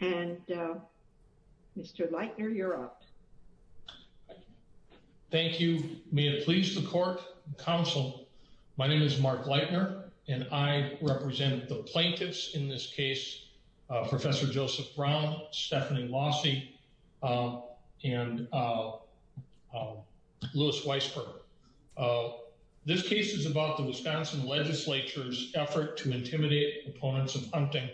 and Mr. Leitner you're up. Thank you. May it please the court and counsel, my name is Mark Leitner and I represent the plaintiffs in this case, Professor Joseph Brown, Stephanie Lossie and Lewis Weisberg. This case is about the Wisconsin legislature's effort to intimidate opponents of hunting.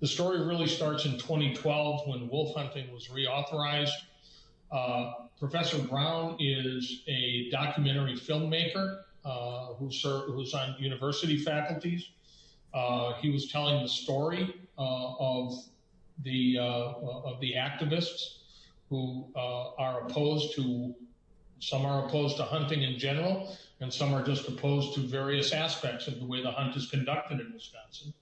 The story really starts in 2012 when wolf hunting was reauthorized. Professor Brown is a documentary filmmaker who was on university faculties. He was telling the story of the of the activists who are opposed to, some are opposed to hunting in general and some are just opposed to various aspects of the way the hunt is conducted in Wisconsin.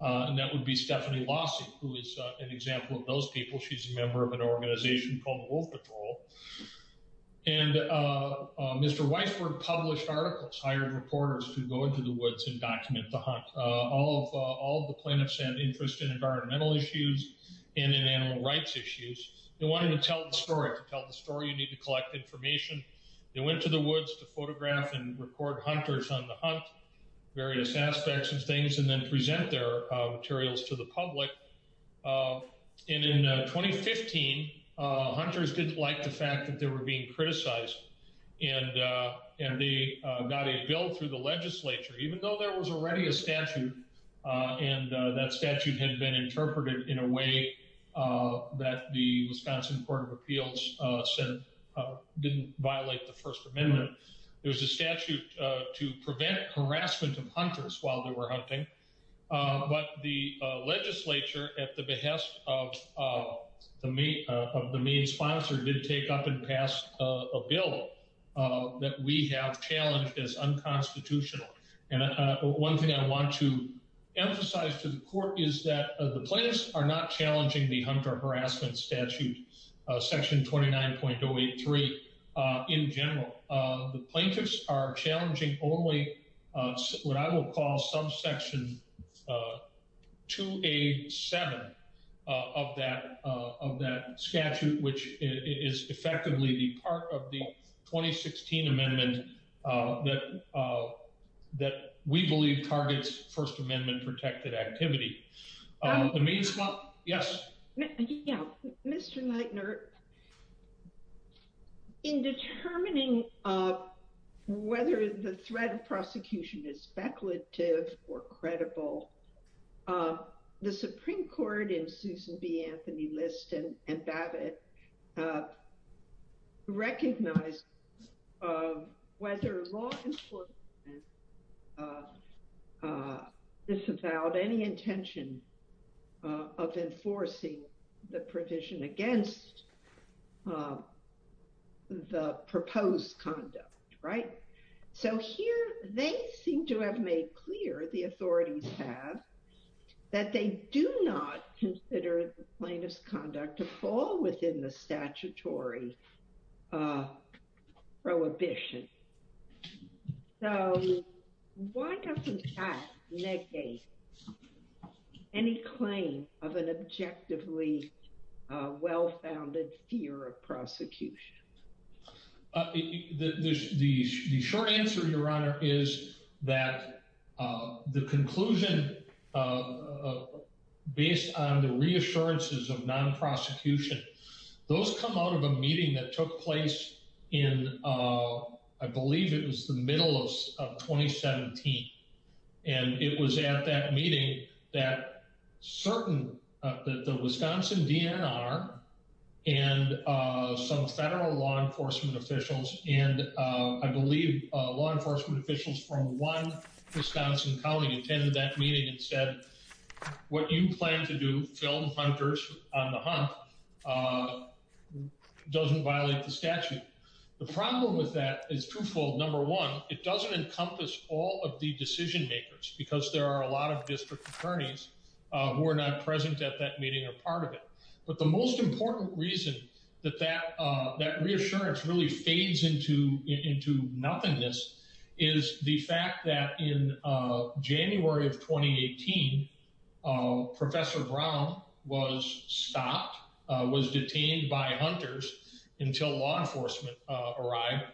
And that would be Stephanie Lossie who is an example of those people. She's a member of an organization called Wolf Patrol. And Mr. Weisberg published articles, hired reporters to go into the woods and document the hunt. All the plaintiffs had interest in environmental issues and in animal rights issues. They wanted to tell the story. To tell the story you need to collect information. They went to the woods to photograph and record hunters on the hunt, various aspects of things and then present their materials to the public. And in 2015, hunters didn't like the fact that they were being a statute and that statute had been interpreted in a way that the Wisconsin Court of Appeals said didn't violate the First Amendment. There was a statute to prevent harassment of hunters while they were hunting. But the legislature at the behest of the main sponsor did take up and pass a bill that we have challenged as unconstitutional. And one thing I want to emphasize to the court is that the plaintiffs are not challenging the Hunter Harassment Statute Section 29.083 in general. The plaintiffs are challenging only what I will call subsection 2A7 of that statute, which is effectively the part of the 2016 amendment that we believe targets First Amendment protected activity. The main sponsor, yes. Mr. Leitner, in determining whether the threat of prosecution is speculative or credible, the Supreme Court in Susan B. Anthony List and Babbitt recognized whether law enforcement disavowed any intention of enforcing the provision against the proposed conduct, right? So here they seem to have made clear, the authorities have, that they do not consider the plaintiff's conduct to fall within the statutory prohibition. So why doesn't that negate any claim of an objectively well-founded fear of prosecution? The short answer, Your Honor, is that the conclusion based on the reassurances of non-prosecution, those come out of a meeting that took place in, I believe it was the middle of 2017. And it was at that meeting that certain, the Wisconsin DNR and some federal law enforcement officials, and I believe law enforcement officials from one Wisconsin county attended that meeting and said, what you plan to do, film hunters on the hunt, doesn't violate the statute. The problem with that is twofold. Number one, it doesn't encompass all of the decision makers because there are a lot of district attorneys who are not present at that meeting or part of it. But the most important reason that that reassurance really fades into nothingness is the fact that in January of 2018, Professor Brown was stopped, was detained by hunters until law enforcement arrived.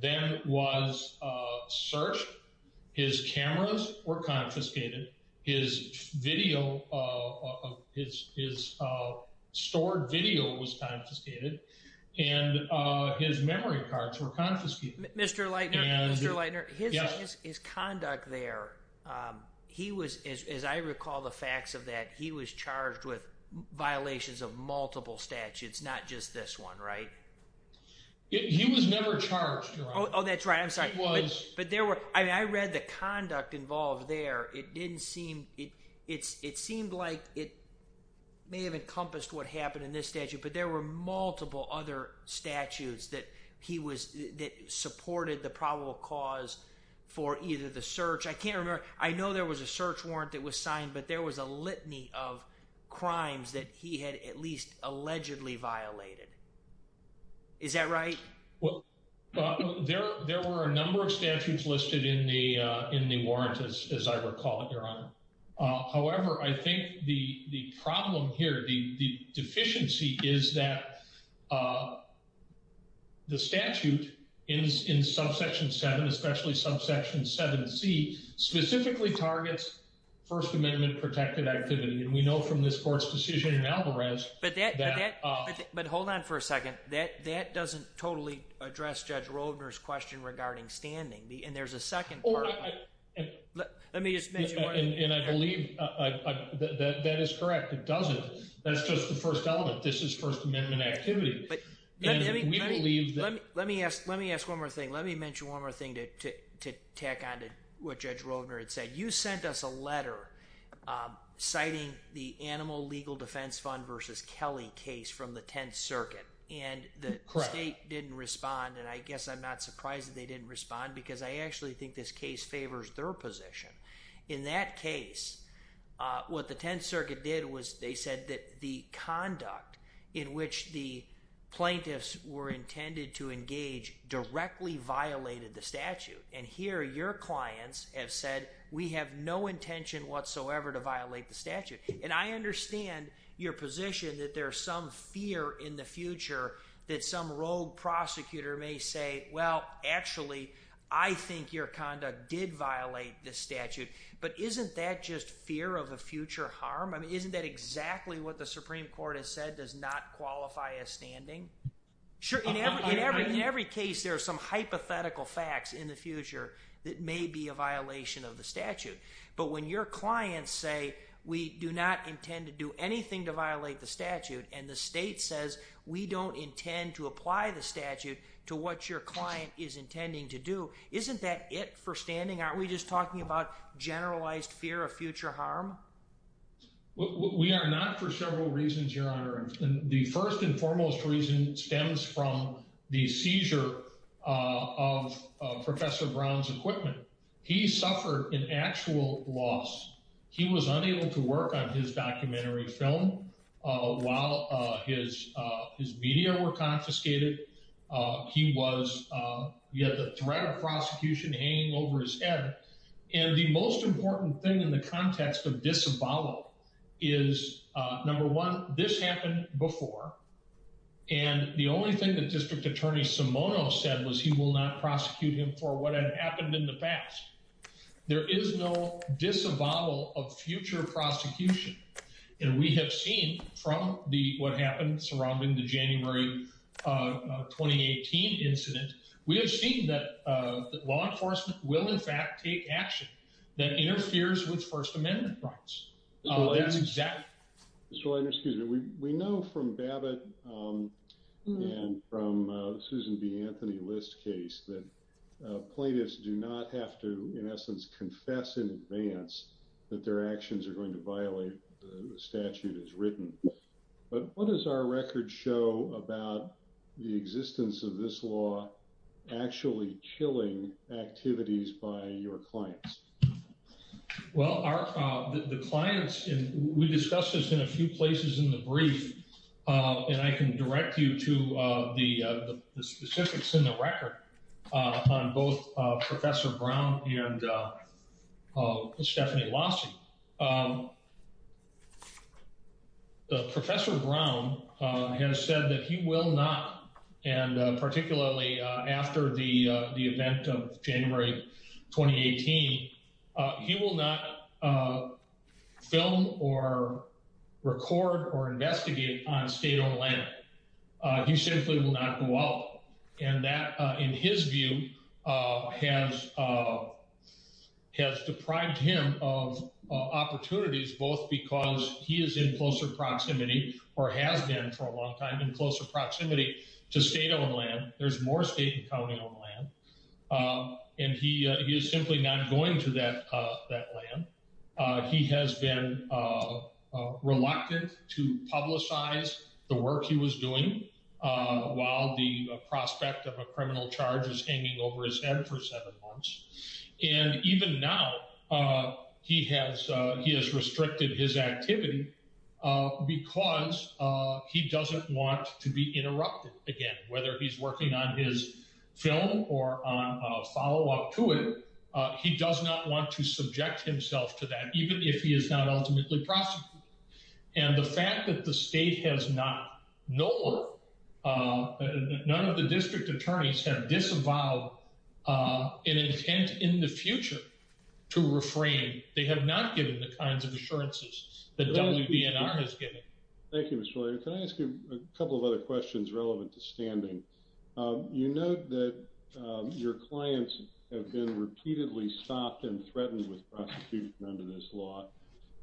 Then was searched, his cameras were confiscated, his video, his stored video was confiscated, and his memory cards were confiscated. Mr. Leitner, his conduct there, he was, as I recall the facts of that, he was charged with He was never charged, Your Honor. Oh, that's right. I'm sorry. He was. But there were, I read the conduct involved there. It didn't seem, it seemed like it may have encompassed what happened in this statute, but there were multiple other statutes that he was, that supported the probable cause for either the search. I can't remember. I know there was a search warrant that was signed, but there was a litany of crimes that he had at least allegedly violated. Is that right? Well, there were a number of statutes listed in the warrant, as I recall it, Your Honor. However, I think the problem here, the deficiency is that the statute in subsection 7, especially subsection 7C, specifically targets First Amendment protected activity. And we know from this court's decision in Alvarez that- But hold on for a second. That doesn't totally address Judge Rovner's question regarding standing. And there's a second part. Let me just mention one- And I believe that is correct. It doesn't. That's just the first element. This is First Amendment activity. And we believe that- Let me ask one more thing. Let me mention one more thing to tack on to what Judge Rovner had cited the Animal Legal Defense Fund versus Kelly case from the 10th Circuit. And the state didn't respond. And I guess I'm not surprised that they didn't respond because I actually think this case favors their position. In that case, what the 10th Circuit did was they said that the conduct in which the plaintiffs were intended to engage directly violated the statute. And here, your whatsoever to violate the statute. And I understand your position that there's some fear in the future that some rogue prosecutor may say, well, actually, I think your conduct did violate the statute. But isn't that just fear of a future harm? I mean, isn't that exactly what the Supreme Court has said does not qualify as standing? Sure. In every case, there are some say we do not intend to do anything to violate the statute. And the state says we don't intend to apply the statute to what your client is intending to do. Isn't that it for standing? Aren't we just talking about generalized fear of future harm? We are not for several reasons, Your Honor. And the first and foremost reason stems from the seizure of Professor Brown's equipment. He suffered an actual loss. He was unable to work on his documentary film while his media were confiscated. He had the threat of prosecution hanging over his head. And the most important thing in the context of disavowal is, number one, this happened before. And the only thing that District Attorney Simono said was he will not prosecute him for what had happened in the past. There is no disavowal of future prosecution. And we have seen from the what happened surrounding the January 2018 incident, we have seen that law enforcement will, in fact, take action that interferes with First Amendment rights. That's exactly it. Mr. Leidner, excuse me. We know from Babbitt and from Susan B. Anthony List's case that plaintiffs do not have to, in essence, confess in advance that their actions are going to violate the statute as written. But what does our record show about the existence of this law actually killing activities by your clients? Well, the clients, we discussed this in a few places in the brief, and I can direct you to the specifics in the record on both Professor Brown and Stephanie Lossi. Professor Brown has said that he will not, and particularly after the event of January 2018, he will not film or record or investigate on state-owned land. He simply will not go out. And that, in his view, has deprived him of opportunities, both because he is in closer proximity or has been for a long time in closer proximity to state-owned land. There's more state county-owned land. And he is simply not going to that land. He has been reluctant to publicize the work he was doing while the prospect of a criminal charge is hanging over his head for seven months. And even now, he has restricted his activity because he doesn't want to be interrupted again, whether he's working on his film or on a follow-up to it. He does not want to subject himself to that, even if he is not ultimately prosecuted. And the fact that the state has not nor none of the district attorneys have disavowed an intent in the future to refrain, they have not given the kinds of assurances that WDNR has given. Thank you, Mr. Lawyer. Can I ask you a couple of other questions relevant to standing? You note that your clients have been repeatedly stopped and threatened with prosecution under this law.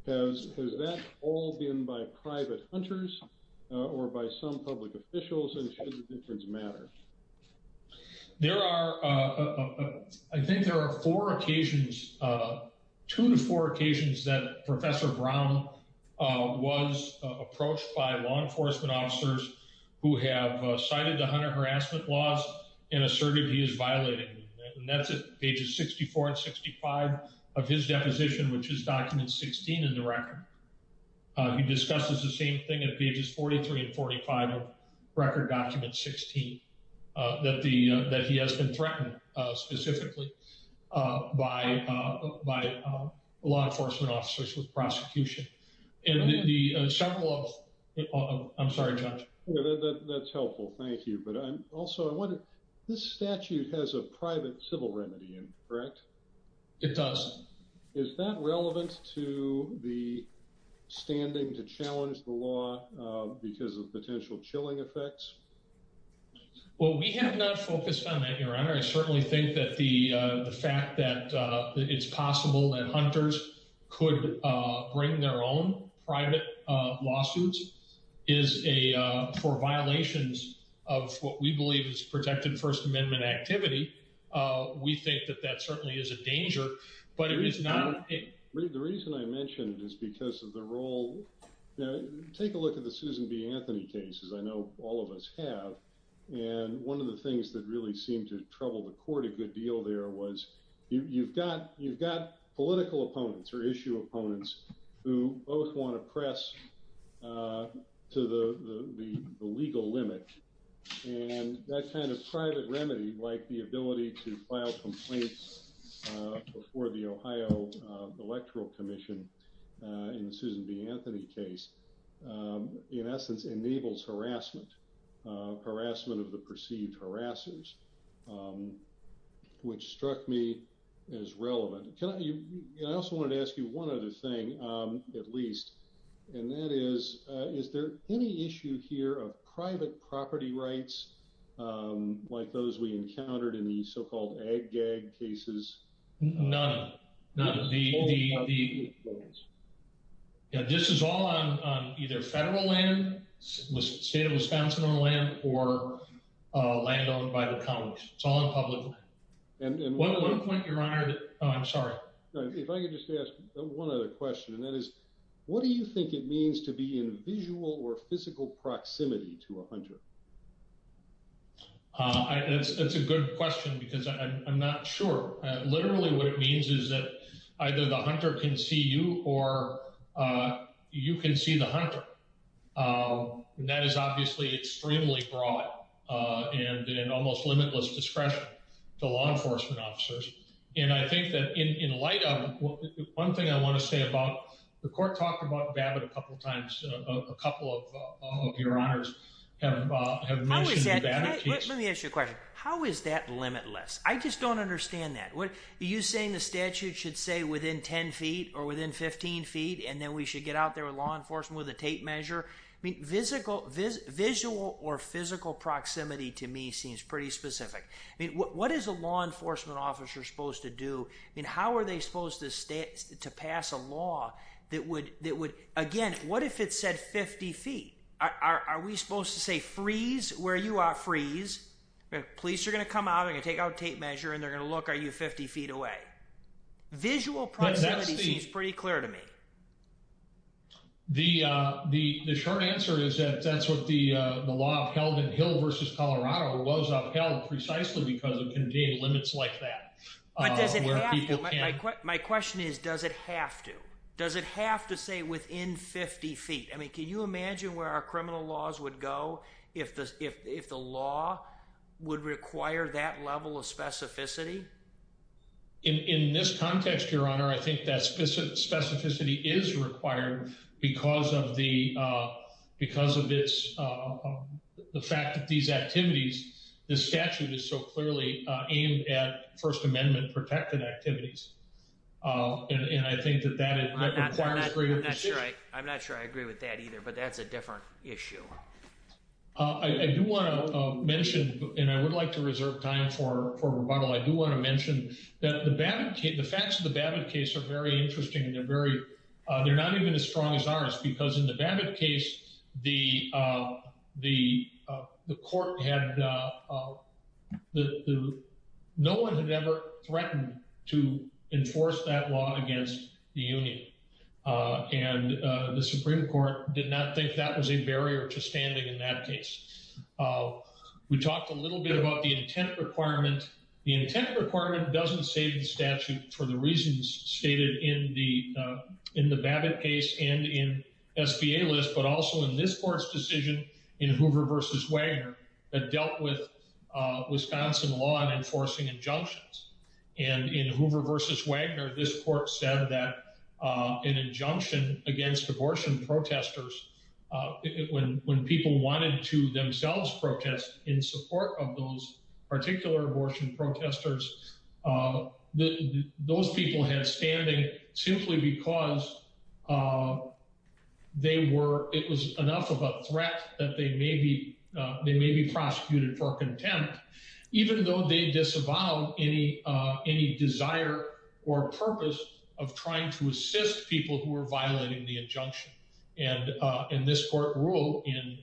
Has that all been by private hunters or by some public officials, and should the difference matter? There are, I think there are four occasions, two to four occasions that Professor Brown was approached by law enforcement officers who have cited the hunter harassment laws and asserted he is violating them. And that's at pages 64 and 65 of his deposition, which is document 16 in the record. He discusses the same thing at pages 43 and 45 of record document 16, that he has been threatened specifically by law enforcement officers with prosecution. I'm sorry, Judge. That's helpful. Thank you. But also, I wonder, this statute has a private civil remedy in it, correct? It does. Is that relevant to the standing to challenge the law because of potential chilling effects? Well, we have not focused on that, Your Honor. I certainly think that the fact that it's possible that hunters could bring their own private lawsuits for violations of what we believe is protected First Amendment activity, we think that that certainly is a danger, but it is not. The reason I mentioned is because of the Susan B. Anthony case, as I know all of us have, and one of the things that really seemed to trouble the court a good deal there was you've got political opponents or issue opponents who both want to press to the legal limit, and that kind of private remedy, like the ability to file complaints before the Ohio Electoral Commission in the Susan B. Anthony case, in essence, enables harassment, harassment of the perceived harassers, which struck me as relevant. I also wanted to ask you one other thing, at least, and that is, is there any issue here of private property rights, like those we encountered in the so-called ag-gag cases? None. This is all on either federal land, state of Wisconsin or land, or land owned by the Congress. It's all in public. One point, Your Honor, I'm sorry. If I could just ask one other question, what is the legal proximity to a hunter? That's a good question because I'm not sure. Literally, what it means is that either the hunter can see you or you can see the hunter, and that is obviously extremely broad and in almost limitless discretion to law enforcement officers, and I think that in light of, one thing I want to say about, the court talked about Babbitt a couple of times, a couple of your honors have mentioned the Babbitt case. Let me ask you a question. How is that limitless? I just don't understand that. Are you saying the statute should say within 10 feet or within 15 feet and then we should get out there with law enforcement with a tape measure? Visual or physical proximity to me seems pretty specific. What is a law enforcement officer supposed to do? How are they supposed to pass a law that would, again, what if it said 50 feet? Are we supposed to say freeze where you are, freeze, the police are going to come out and take out tape measure and they're going to look, are you 50 feet away? Visual proximity seems pretty clear to me. The short answer is that that's what the law of Helden Hill versus Colorado was upheld precisely because it contained limits like that. Does it have to? My question is, does it have to? Does it have to say within 50 feet? I mean, can you imagine where our criminal laws would go if the law would require that level of specificity? In this context, your honor, I think that specificity is required because of the fact that these activities, the statute is so clearly aimed at First Amendment protected activities. And I think that that requires greater precision. I'm not sure I agree with that either, but that's a different issue. I do want to mention, and I would like to reserve time for rebuttal, I do want to mention that the facts of the Babbitt case are very interesting and they're the court had, no one had ever threatened to enforce that law against the union. And the Supreme Court did not think that was a barrier to standing in that case. We talked a little bit about the intent requirement. The intent requirement doesn't save the statute for the reasons stated in the Babbitt case and in SBA list, but also in this decision in Hoover versus Wagner that dealt with Wisconsin law and enforcing injunctions. And in Hoover versus Wagner, this court said that an injunction against abortion protesters, when people wanted to themselves protest in support of those particular abortion protesters, those people had standing simply because they were, it was enough of a threat that they may be prosecuted for contempt, even though they disavowed any desire or purpose of trying to assist people who were violating the injunction. And this court ruled in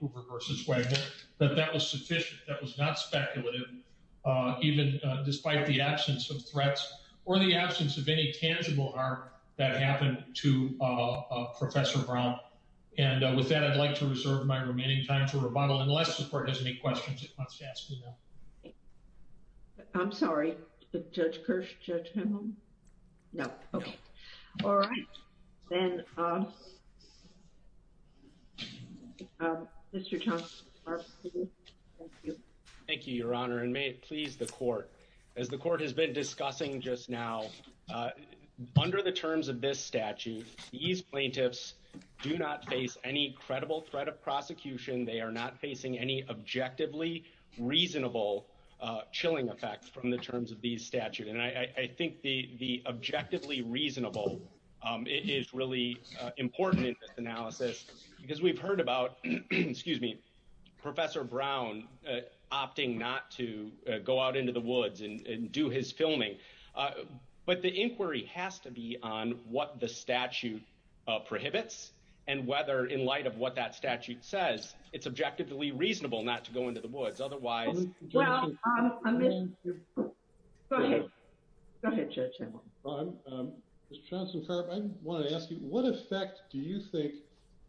Hoover versus Wagner that that was sufficient. That was not speculative, even despite the absence of threats or the absence of any tangible harm that happened to Professor Brown. And with that, I'd like to reserve my remaining time for rebuttal unless the court has any questions. I'm sorry, Judge Kirsch, Judge Hamill? No. Okay. All right. Then we'll go to Mr. Thompson. Mr. Thompson. Thank you, Your Honor, and may it please the court. As the court has been discussing just now, under the terms of this statute, these plaintiffs do not face any credible threat of prosecution. They are not facing any objectively reasonable chilling effect from the terms of these statute. And I think the objectively reasonable is really important in this analysis because we've heard about, excuse me, Professor Brown opting not to go out into the woods and do his filming. But the inquiry has to be on what the statute prohibits and whether in light of what that statute says, it's objectively reasonable not to go into the woods. Otherwise... Go ahead, Judge Hamill. Mr. Thompson, I want to ask you, what effect do you think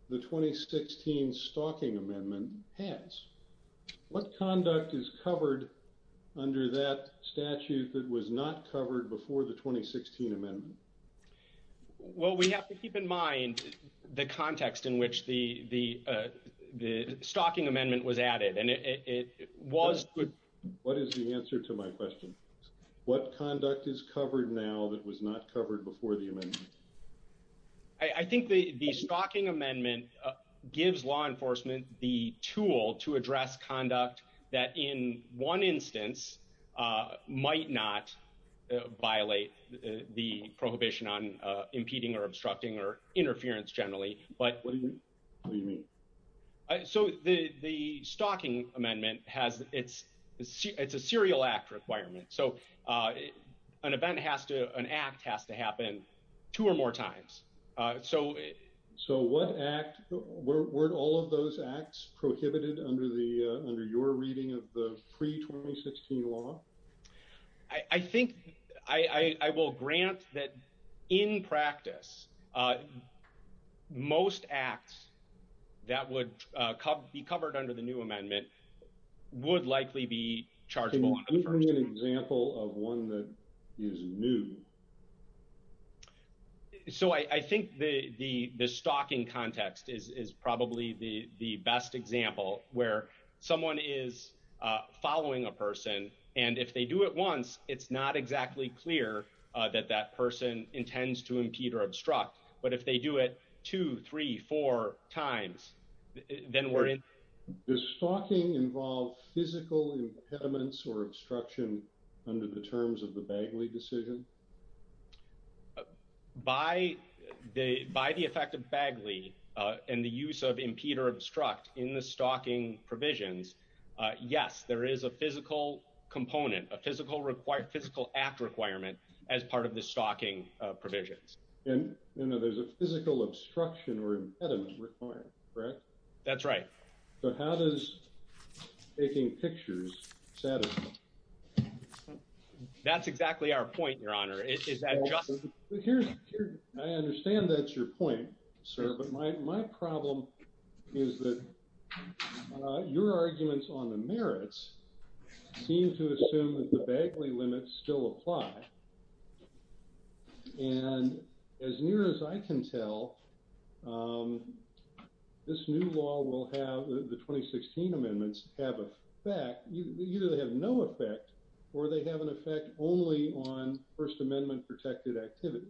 the 2016 Stalking Amendment has? What conduct is covered under that statute that was not covered before the 2016 Amendment? Well, we have to keep in mind the context in which the Stalking Amendment was added. And it was... What is the answer to my question? What conduct is covered now that was not covered before the amendment? I think the Stalking Amendment gives law enforcement the tool to address conduct that in one instance might not violate the prohibition on impeding or obstructing or interference generally. But... What do you mean? So the Stalking Amendment has... It's a serial act requirement. So an event has to... An act has to happen two or more times. So... Weren't all of those acts prohibited under your reading of the pre-2016 law? I think I will grant that in practice, most acts that would be covered under the new amendment would likely be chargeable under the first amendment. Can you give me an example of one that is new? So I think the stalking context is probably the best example where someone is following a person. And if they do it once, it's not exactly clear that that person intends to impede or obstruct. But if they do it two, three, four times, then we're in... Does stalking involve physical impediments or obstruction under the terms of the Bagley decision? By the effect of Bagley and the use of impede or obstruct in the stalking provisions, yes, there is a physical component, a physical act requirement as part of the stalking provisions. And there's a physical obstruction or impediment requirement, correct? That's right. So how does taking pictures satisfy? That's exactly our point, your honor. Is that just... I understand that's your point, sir. But my problem is that your arguments on the merits seem to assume that the Bagley limits still apply. And as near as I can tell, this new law will have... The 2016 amendments have an effect. Either they have no effect or they have an effect only on First Amendment protected activity.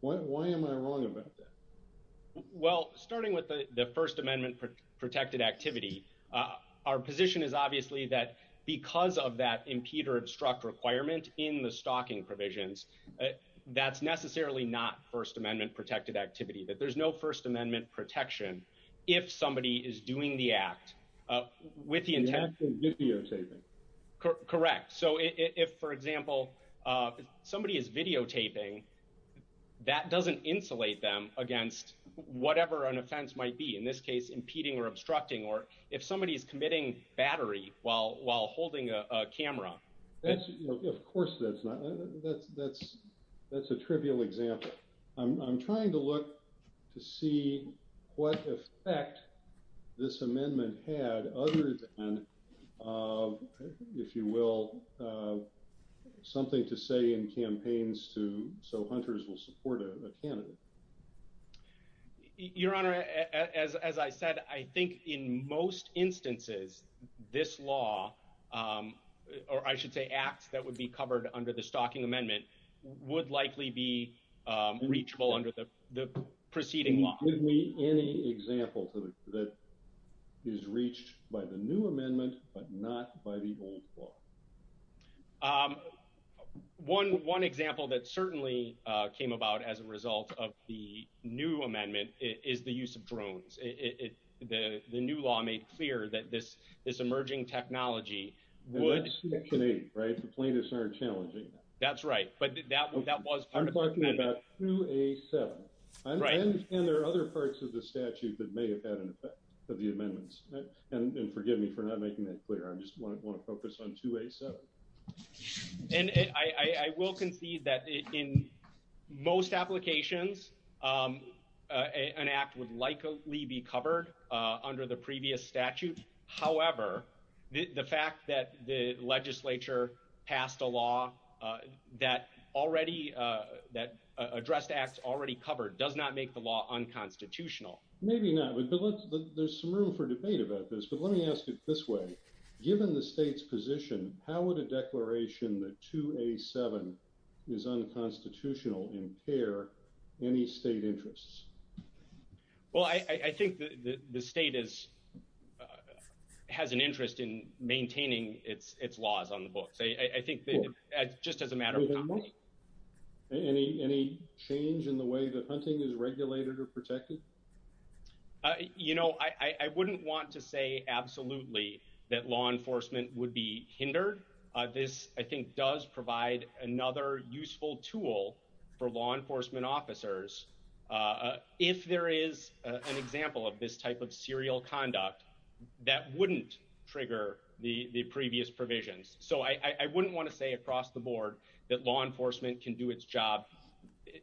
Why am I wrong about that? Well, starting with the First Amendment protected activity, our position is obviously that because of that impede or obstruct requirement in the stalking provisions, that's necessarily not First Amendment protected activity, that there's no First Amendment protection if somebody is doing the act with the intent... The act is videotaping. Correct. So if, for example, somebody is videotaping, that doesn't insulate them against whatever an offense might be, in this case, impeding or obstructing, or if somebody is committing battery while holding a camera. Of course that's not... That's a trivial example. I'm trying to look to see what effect this amendment had other than, if you will, something to say in campaigns to... So hunters will support a candidate. Your Honor, as I said, I think in most instances, this law, or I should say acts that would be covered under the stalking amendment, would likely be reachable under the preceding law. Can you give me any example that is reached by the new amendment, but not by the old law? Um, one example that certainly came about as a result of the new amendment is the use of drones. The new law made clear that this emerging technology would... And that's Section 8, right? The plaintiffs aren't challenging that. That's right, but that was part of the amendment. I'm talking about 2A7. And there are other parts of the statute that may have had an effect of the amendments, and forgive me for not making that clear. I just want to focus on 2A7. And I will concede that in most applications, an act would likely be covered under the previous statute. However, the fact that the legislature passed a law that already... That addressed acts already covered does not make the law unconstitutional. Maybe not, but there's some room for debate about this. But let me ask it this way. Given the state's position, how would a declaration that 2A7 is unconstitutional impair any state interests? Well, I think the state has an interest in maintaining its laws on the books. I think that just as a matter of... You know, I wouldn't want to say absolutely that law enforcement would be hindered. This, I think, does provide another useful tool for law enforcement officers. If there is an example of this type of serial conduct, that wouldn't trigger the previous provisions. So I wouldn't want to say across the board that law enforcement can do its job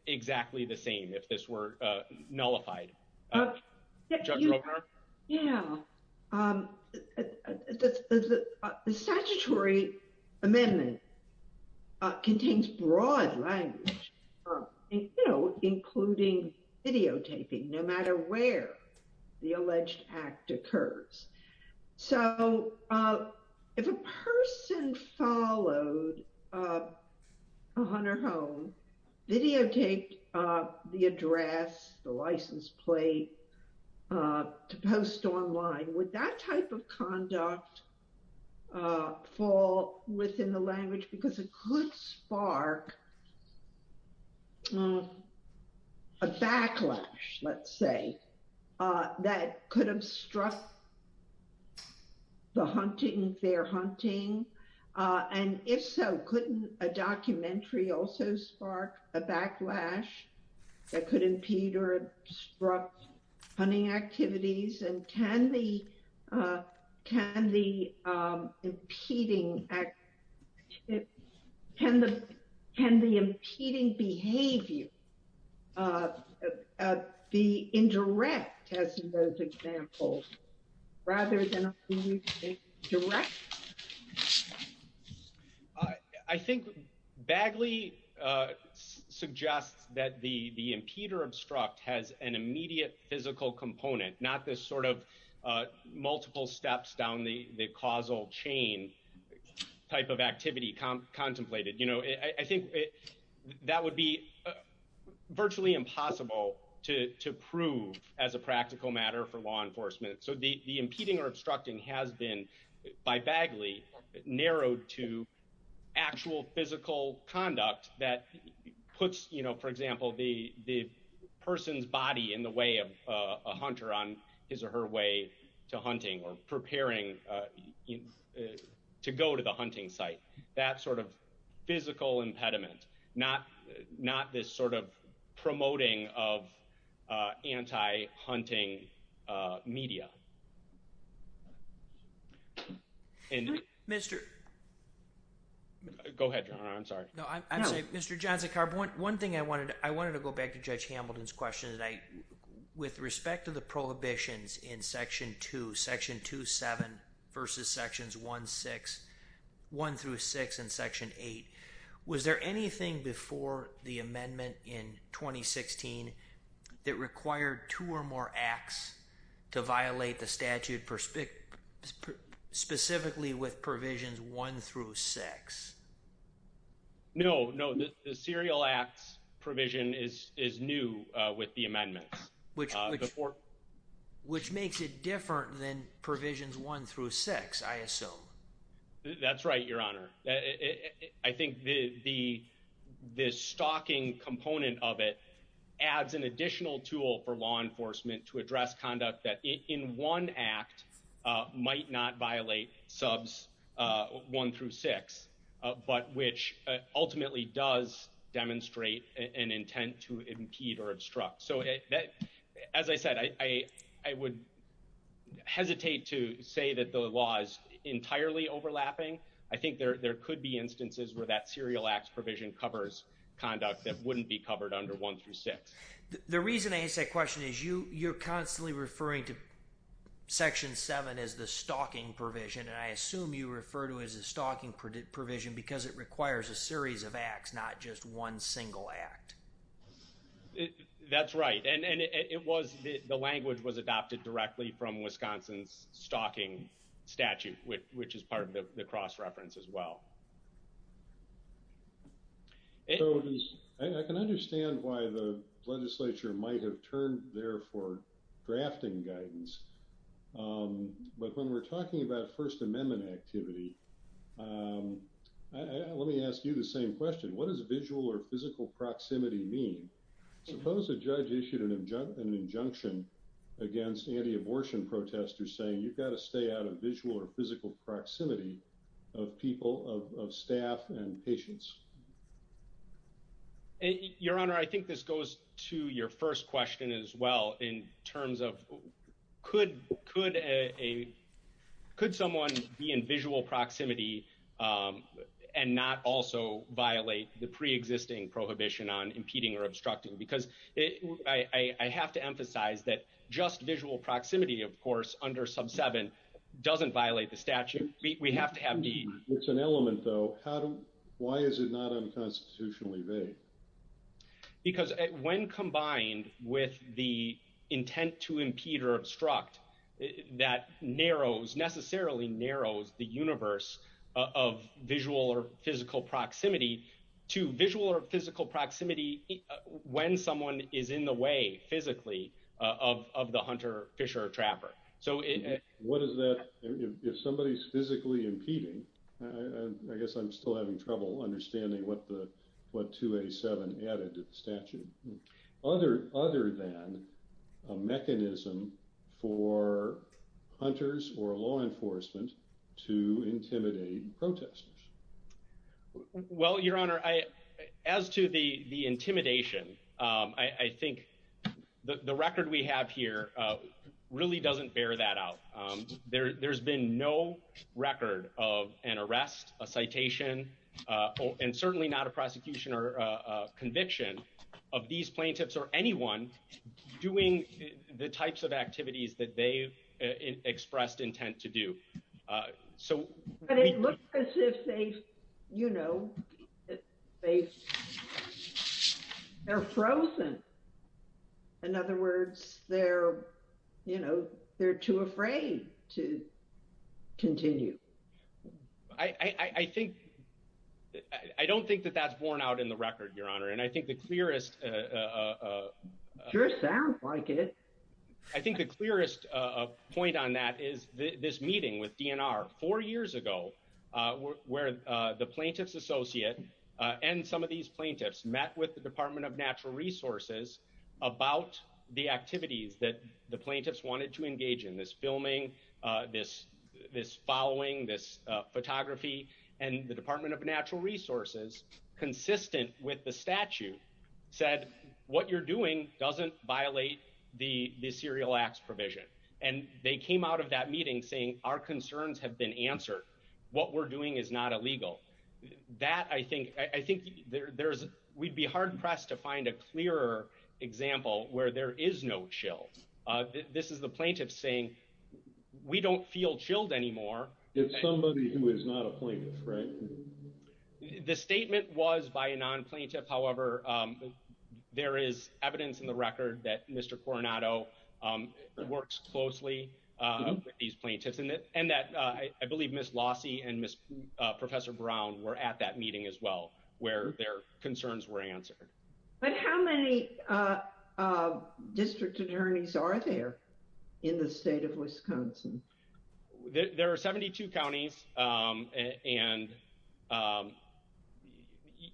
exactly the same if this were nullified. Yeah. The statutory amendment contains broad language, including videotaping, no matter where the alleged act occurs. So if a person followed up a hunter home, videotaped the address, the license plate, to post online, would that type of conduct fall within the language? Because it could spark a backlash, let's say, that could obstruct the hunting, their hunting. And if so, couldn't a documentary also spark a backlash that could impede or obstruct hunting activities? And can the impeding behavior be indirect, as in those examples, rather than a direct? I think Bagley suggests that the impede or obstruct has an immediate physical component, not this sort of multiple steps down the causal chain type of activity contemplated. I think that would be virtually impossible to prove as a practical matter for law enforcement. So the impeding or obstructing has been, by Bagley, narrowed to actual physical conduct that puts, for example, the person's body in the way of a hunter on his or her way to hunting, or preparing to go to the hunting site. That sort of physical impediment, not this sort of promoting of anti-hunting media. Go ahead, Your Honor, I'm sorry. No, I'm saying, Mr. Johnson-Karp, one thing I wanted to go back to Judge Hamilton's question, with respect to the prohibitions in Section 2, Section 2.7 versus Sections 1 through 6 and Section 8, was there anything before the amendment in 2016 that required two or more acts to violate the statute, specifically with provisions 1 through 6? No, no, the serial acts provision is new with the amendment. Which makes it different than provisions 1 through 6, I assume. That's right, Your Honor. I think the stalking component of it adds an additional tool for law enforcement to address conduct that in one act might not violate subs 1 through 6. But which ultimately does demonstrate an intent to impede or obstruct. So as I said, I would hesitate to say that the law is entirely overlapping. I think there could be instances where that serial acts provision covers conduct that wouldn't be covered under 1 through 6. The reason I ask that question is you're constantly referring to Section 7 as the stalking provision, and I assume you refer to it as a stalking provision because it requires a series of acts, not just one single act. That's right, and it was, the language was adopted directly from Wisconsin's stalking statute, which is part of the cross-reference as well. I can understand why the legislature might have turned there for drafting guidance, but when we're talking about First Amendment activity, let me ask you the same question. What does visual or physical proximity mean? Suppose a judge issued an injunction against anti-abortion protesters saying you've got to stay out of visual or physical proximity of people, of staff and patients. Your Honor, I think this goes to your first question as well in terms of could someone be in visual proximity and not also violate the pre-existing prohibition on impeding or obstructing because I have to emphasize that just visual proximity, of course, under Sub 7 doesn't violate the statute. We have to have the- It's an element though. Why is it not unconstitutionally vague? Because when combined with the intent to impede or obstruct, that narrows, necessarily narrows the universe of visual or physical proximity to visual or physical proximity when someone is in the way physically of the hunter, fisher, or trapper. So what is that, if somebody's physically impeding, I guess I'm still having trouble understanding what 287 added to the statute, other than a mechanism for hunters or law enforcement to intimidate protesters? Well, Your Honor, as to the intimidation, I think the record we have here really doesn't bear that out. There's been no record of an arrest, a citation, and certainly not a prosecution or a conviction of these plaintiffs or anyone doing the types of activities that they've expressed intent to do. But it looks as if they, you know, they're frozen. In other words, they're, you know, they're too afraid to continue. I think, I don't think that that's borne out in the record, Your Honor. And I think the clearest- Sure sounds like it. I think the clearest point on that is this meeting with DNR four years ago, where the plaintiff's and some of these plaintiffs met with the Department of Natural Resources about the activities that the plaintiffs wanted to engage in, this filming, this following, this photography, and the Department of Natural Resources, consistent with the statute, said, what you're doing doesn't violate the serial acts provision. And they came out of that meeting saying, our concerns have been answered. What we're doing is not illegal. That, I think, I think there's, we'd be hard-pressed to find a clearer example where there is no chill. This is the plaintiff saying, we don't feel chilled anymore. It's somebody who is not a plaintiff, right? The statement was by a non-plaintiff. However, there is evidence in the record that Mr. Coronado works closely with these plaintiffs and that I believe Ms. Lossie and Ms. Professor Brown were at that meeting as well, where their concerns were answered. But how many district attorneys are there in the state of Wisconsin? There are 72 counties. And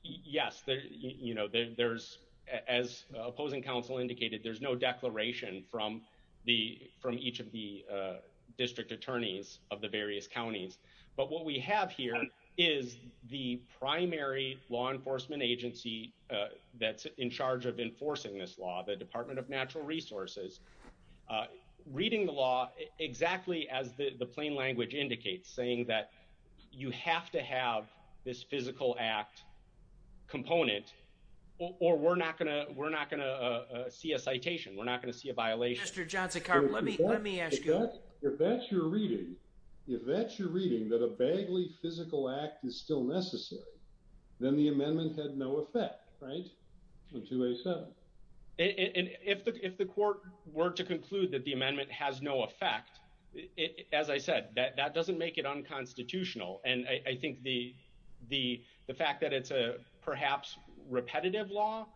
yes, you know, there's, as opposing counsel indicated, there's no declaration from the, from each of the district attorneys of the various counties. But what we have here is the primary law enforcement agency that's in charge of enforcing this law, the Department of Natural Resources, reading the law exactly as the plain language indicates, saying that you have to have this physical act component, or we're not gonna, see a citation. We're not going to see a violation. Mr. Johnson, let me ask you, if that's your reading, if that's your reading, that a badly physical act is still necessary, then the amendment had no effect, right? And if the court were to conclude that the amendment has no effect, as I said, that doesn't make it unconstitutional. And I think the fact that it's a perhaps repetitive law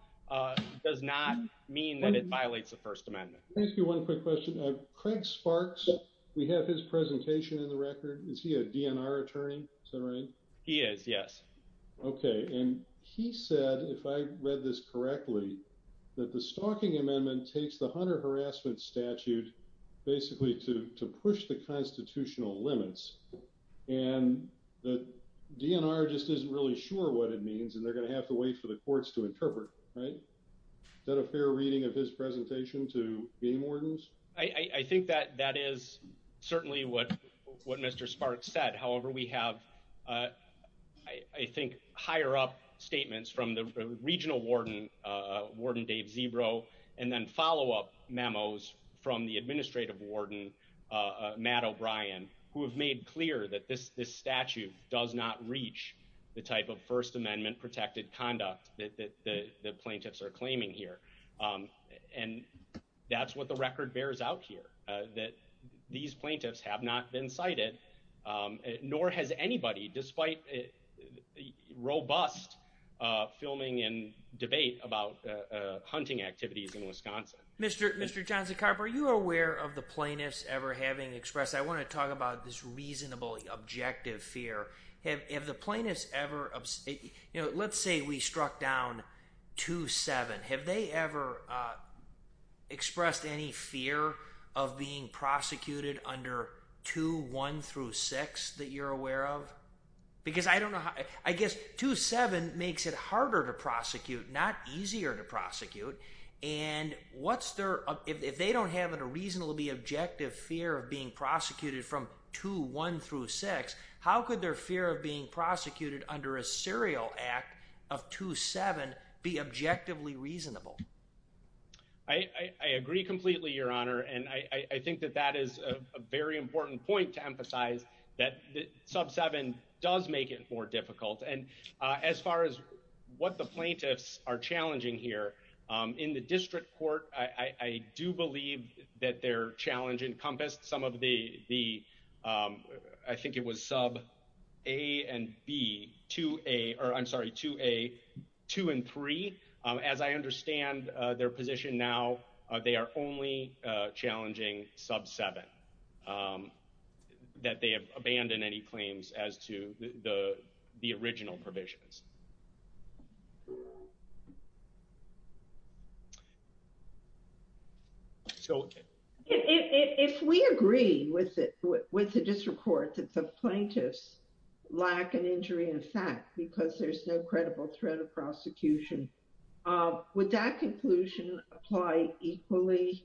does not mean that it violates the First Amendment. Let me ask you one quick question. Craig Sparks, we have his presentation in the record. Is he a DNR attorney? Is that right? He is, yes. Okay. And he said, if I read this correctly, that the stalking amendment takes the Hunter harassment statute, basically to push the constitutional limits. And the DNR just isn't really sure what it means. And they're going to have to wait for the courts to interpret, right? Is that a fair reading of his presentation to any wardens? I think that that is certainly what Mr. Sparks said. However, we have, I think, higher up statements from the regional warden, Warden Dave Zebro, and then follow-up memos from the administrative warden, Matt O'Brien, who have made clear that this statute does not reach the type of First Amendment protected conduct that the plaintiffs are claiming here. And that's what the record bears out here, that these plaintiffs have not been cited, nor has anybody, despite robust filming and debate about hunting activities in Wisconsin. Mr. Johnson-Carper, are you aware of the plaintiffs ever having expressed, I want to talk about this reasonable, objective fear. Have the plaintiffs ever, let's say we struck down 2-7. Have they ever expressed any fear of being prosecuted under 2-1 through 6 that you're aware of? Because I guess 2-7 makes it harder to prosecute, not easier to prosecute. And if they don't have a reasonably objective fear of being prosecuted from 2-1 through 6, how could their fear of being prosecuted under a serial act of 2-7 be objectively reasonable? I agree completely, Your Honor. And I think that that is a very important point to emphasize, that Sub 7 does make it more difficult. And as far as what the plaintiffs are challenging here, in the district court, I do believe that their challenge encompassed the, I think it was Sub A and B, 2A, or I'm sorry, 2A, 2 and 3. As I understand their position now, they are only challenging Sub 7, that they have abandoned any claims as to the original provisions. So if we agree with the district court that the plaintiffs lack an injury in fact, because there's no credible threat of prosecution, would that conclusion apply equally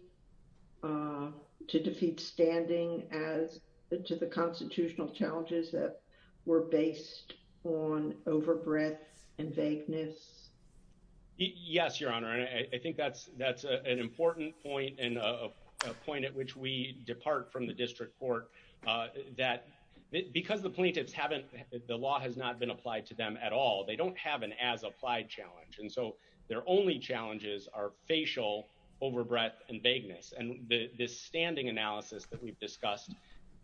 to defeat standing as to the constitutional challenges that were based on overbreadth and vagueness? Yes, Your Honor. And I think that's an important point and a point at which we depart from the district court, that because the plaintiffs haven't, the law has not been applied to them at all, they don't have an as-applied challenge. And so their only challenges are facial overbreadth and vagueness. And this standing analysis that we've discussed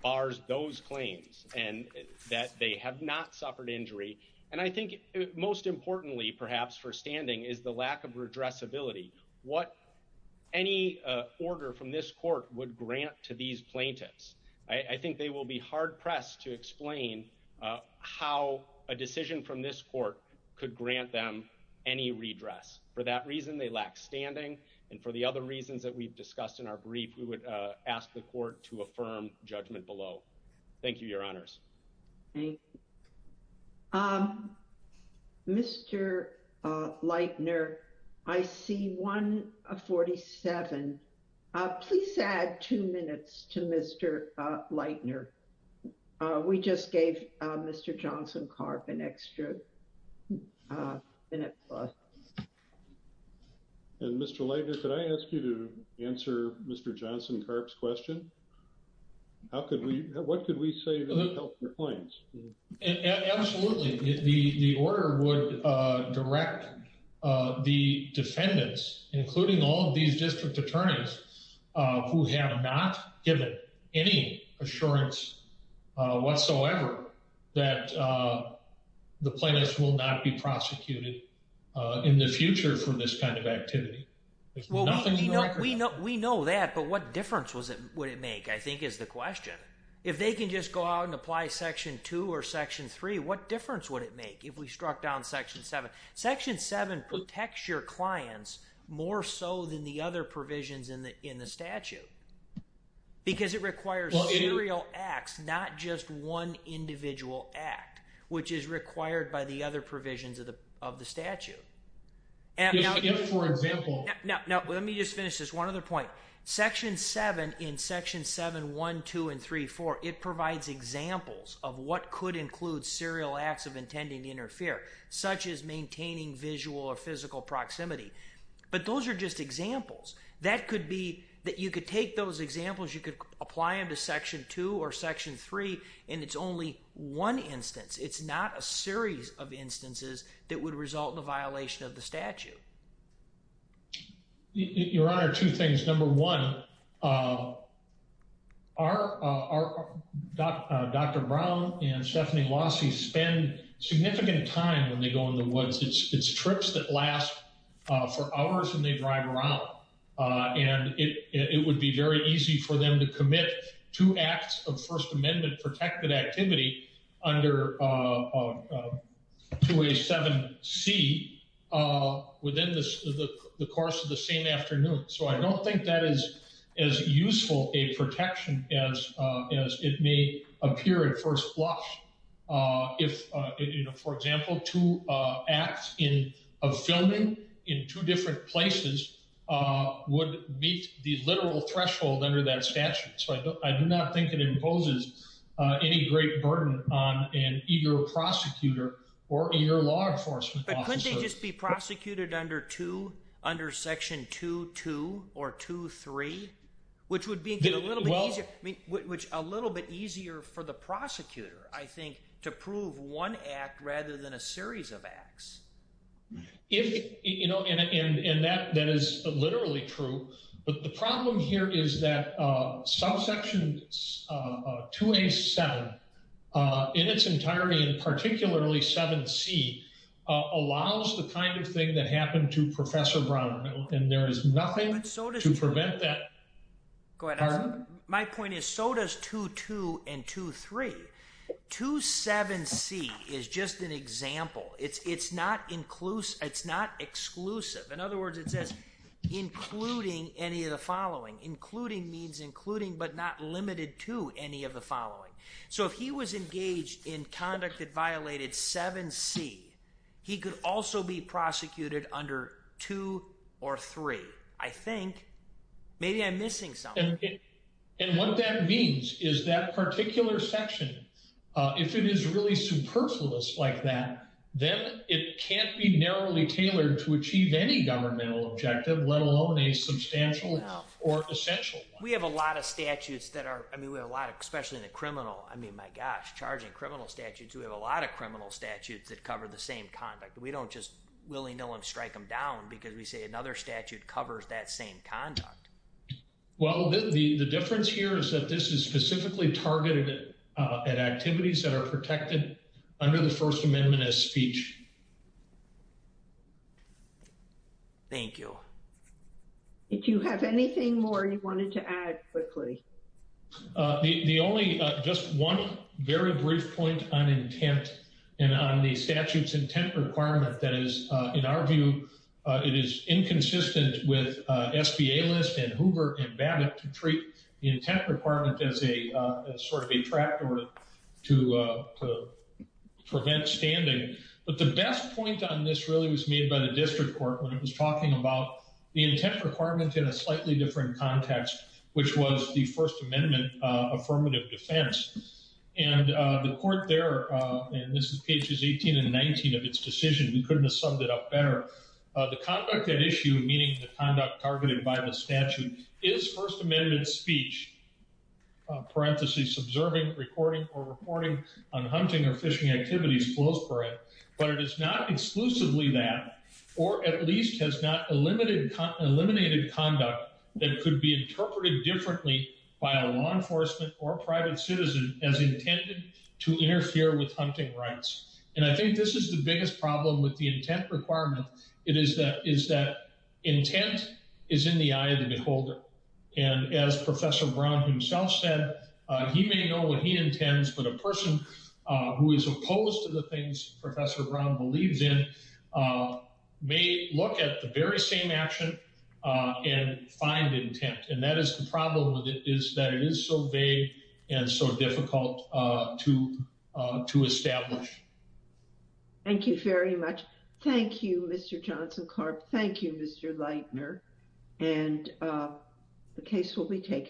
bars those claims and that they have not suffered injury. And I think most importantly, perhaps for standing, is the lack of redressability. What any order from this court would grant to these plaintiffs? I think they will be hard pressed to explain how a decision from this court could grant them any redress. For that we've discussed in our brief, we would ask the court to affirm judgment below. Thank you, Your Honors. Thank you. Mr. Leitner, I see one of 47. Please add two minutes to Mr. Leitner. We just gave Mr. Johnson-Karp an extra minute. And Mr. Leitner, could I ask you to answer Mr. Johnson-Karp's question? How could we, what could we say to help the plaintiffs? Absolutely. The order would direct the defendants, including all these district attorneys who have not given any assurance whatsoever that the plaintiffs will not be prosecuted in the future for this kind of activity. We know that, but what difference would it make, I think is the question. If they can just go out and apply Section 2 or Section 3, what difference would it make if we struck down Section 7? Section 7 protects your clients more so than the other provisions in the statute. It requires serial acts, not just one individual act, which is required by the other provisions of the statute. Now, let me just finish this. One other point. Section 7, in Section 7, 1, 2, and 3, 4, it provides examples of what could include serial acts of intending to interfere, such as maintaining visual or physical proximity. But those are just examples. That could be that could take those examples, you could apply them to Section 2 or Section 3, and it's only one instance. It's not a series of instances that would result in a violation of the statute. Your Honor, two things. Number one, Dr. Brown and Stephanie Lossie spend significant time when they drive around, and it would be very easy for them to commit two acts of First Amendment protected activity under 2A7C within the course of the same afternoon. So I don't think that is as useful a protection as it may appear at first blush. For example, two acts of filming in two different places would meet the literal threshold under that statute. So I do not think it imposes any great burden on an eager prosecutor or a law enforcement officer. But couldn't they just be prosecuted under 2, under Section 2.2 or 2.3, which would be a little bit easier, which a little bit easier for the prosecutor, I think, to prove one act rather than a series of acts. You know, and that is literally true, but the problem here is that subsection 2A7 in its entirety, and particularly 7C, allows the kind of thing that happened to Professor Brown, and there is nothing to prevent that. My point is, so does 2.2 and 2.3. 2.7C is just an example. It's not inclusive, it's not exclusive. In other words, it says, including any of the following. Including means including but not limited to any of the following. So if he was engaged in conduct that violated 7C, he could also be prosecuted under 2 or 3. I think, maybe I'm missing something. And what that means is that particular section, if it is really superfluous like that, then it can't be narrowly tailored to achieve any governmental objective, let alone a substantial or essential one. We have a lot of statutes that are, I mean, we have a lot of, especially in the criminal, I mean, my gosh, charging criminal statutes. We have a lot of criminal statutes that cover the same conduct. We don't just willy-nilly strike them down because we say another statute covers that same conduct. Well, the difference here is that this is specifically targeted at activities that are protected under the First Amendment as speech. Thank you. Did you have anything more you wanted to add quickly? The only, just one very brief point on intent and on the statute's intent requirement that is, in our view, it is inconsistent with SBA list and Hoover and Babbitt to treat the intent requirement as a sort of a tractor to prevent standing. But the best point on this really was made by the district court when it was talking about the intent requirement in a slightly different context, which was the First Amendment affirmative defense. And the court there, and this is pages 18 and 19 of its decision, we couldn't have summed it up better. The conduct at issue, meaning the conduct targeted by the statute, is First Amendment speech. Parentheses, observing, recording, or reporting on hunting or fishing activities, close parenthesis. But it is not exclusively that, or at least has not eliminated conduct that could be interpreted differently by a law enforcement or private citizen as intended to interfere with hunting rights. And I think this is the biggest problem with the intent requirement. It is that intent is in the eye of the beholder. And as Professor Brown himself said, he may know what he intends, but a person who is opposed to the things Professor Brown believes in may look at the very same action and find intent. And that is the problem with it, is that it is so vague and so difficult to establish. Thank you very much. Thank you, Mr. Johnson-Karp. Thank you, Mr. Leitner. And the case will be taken.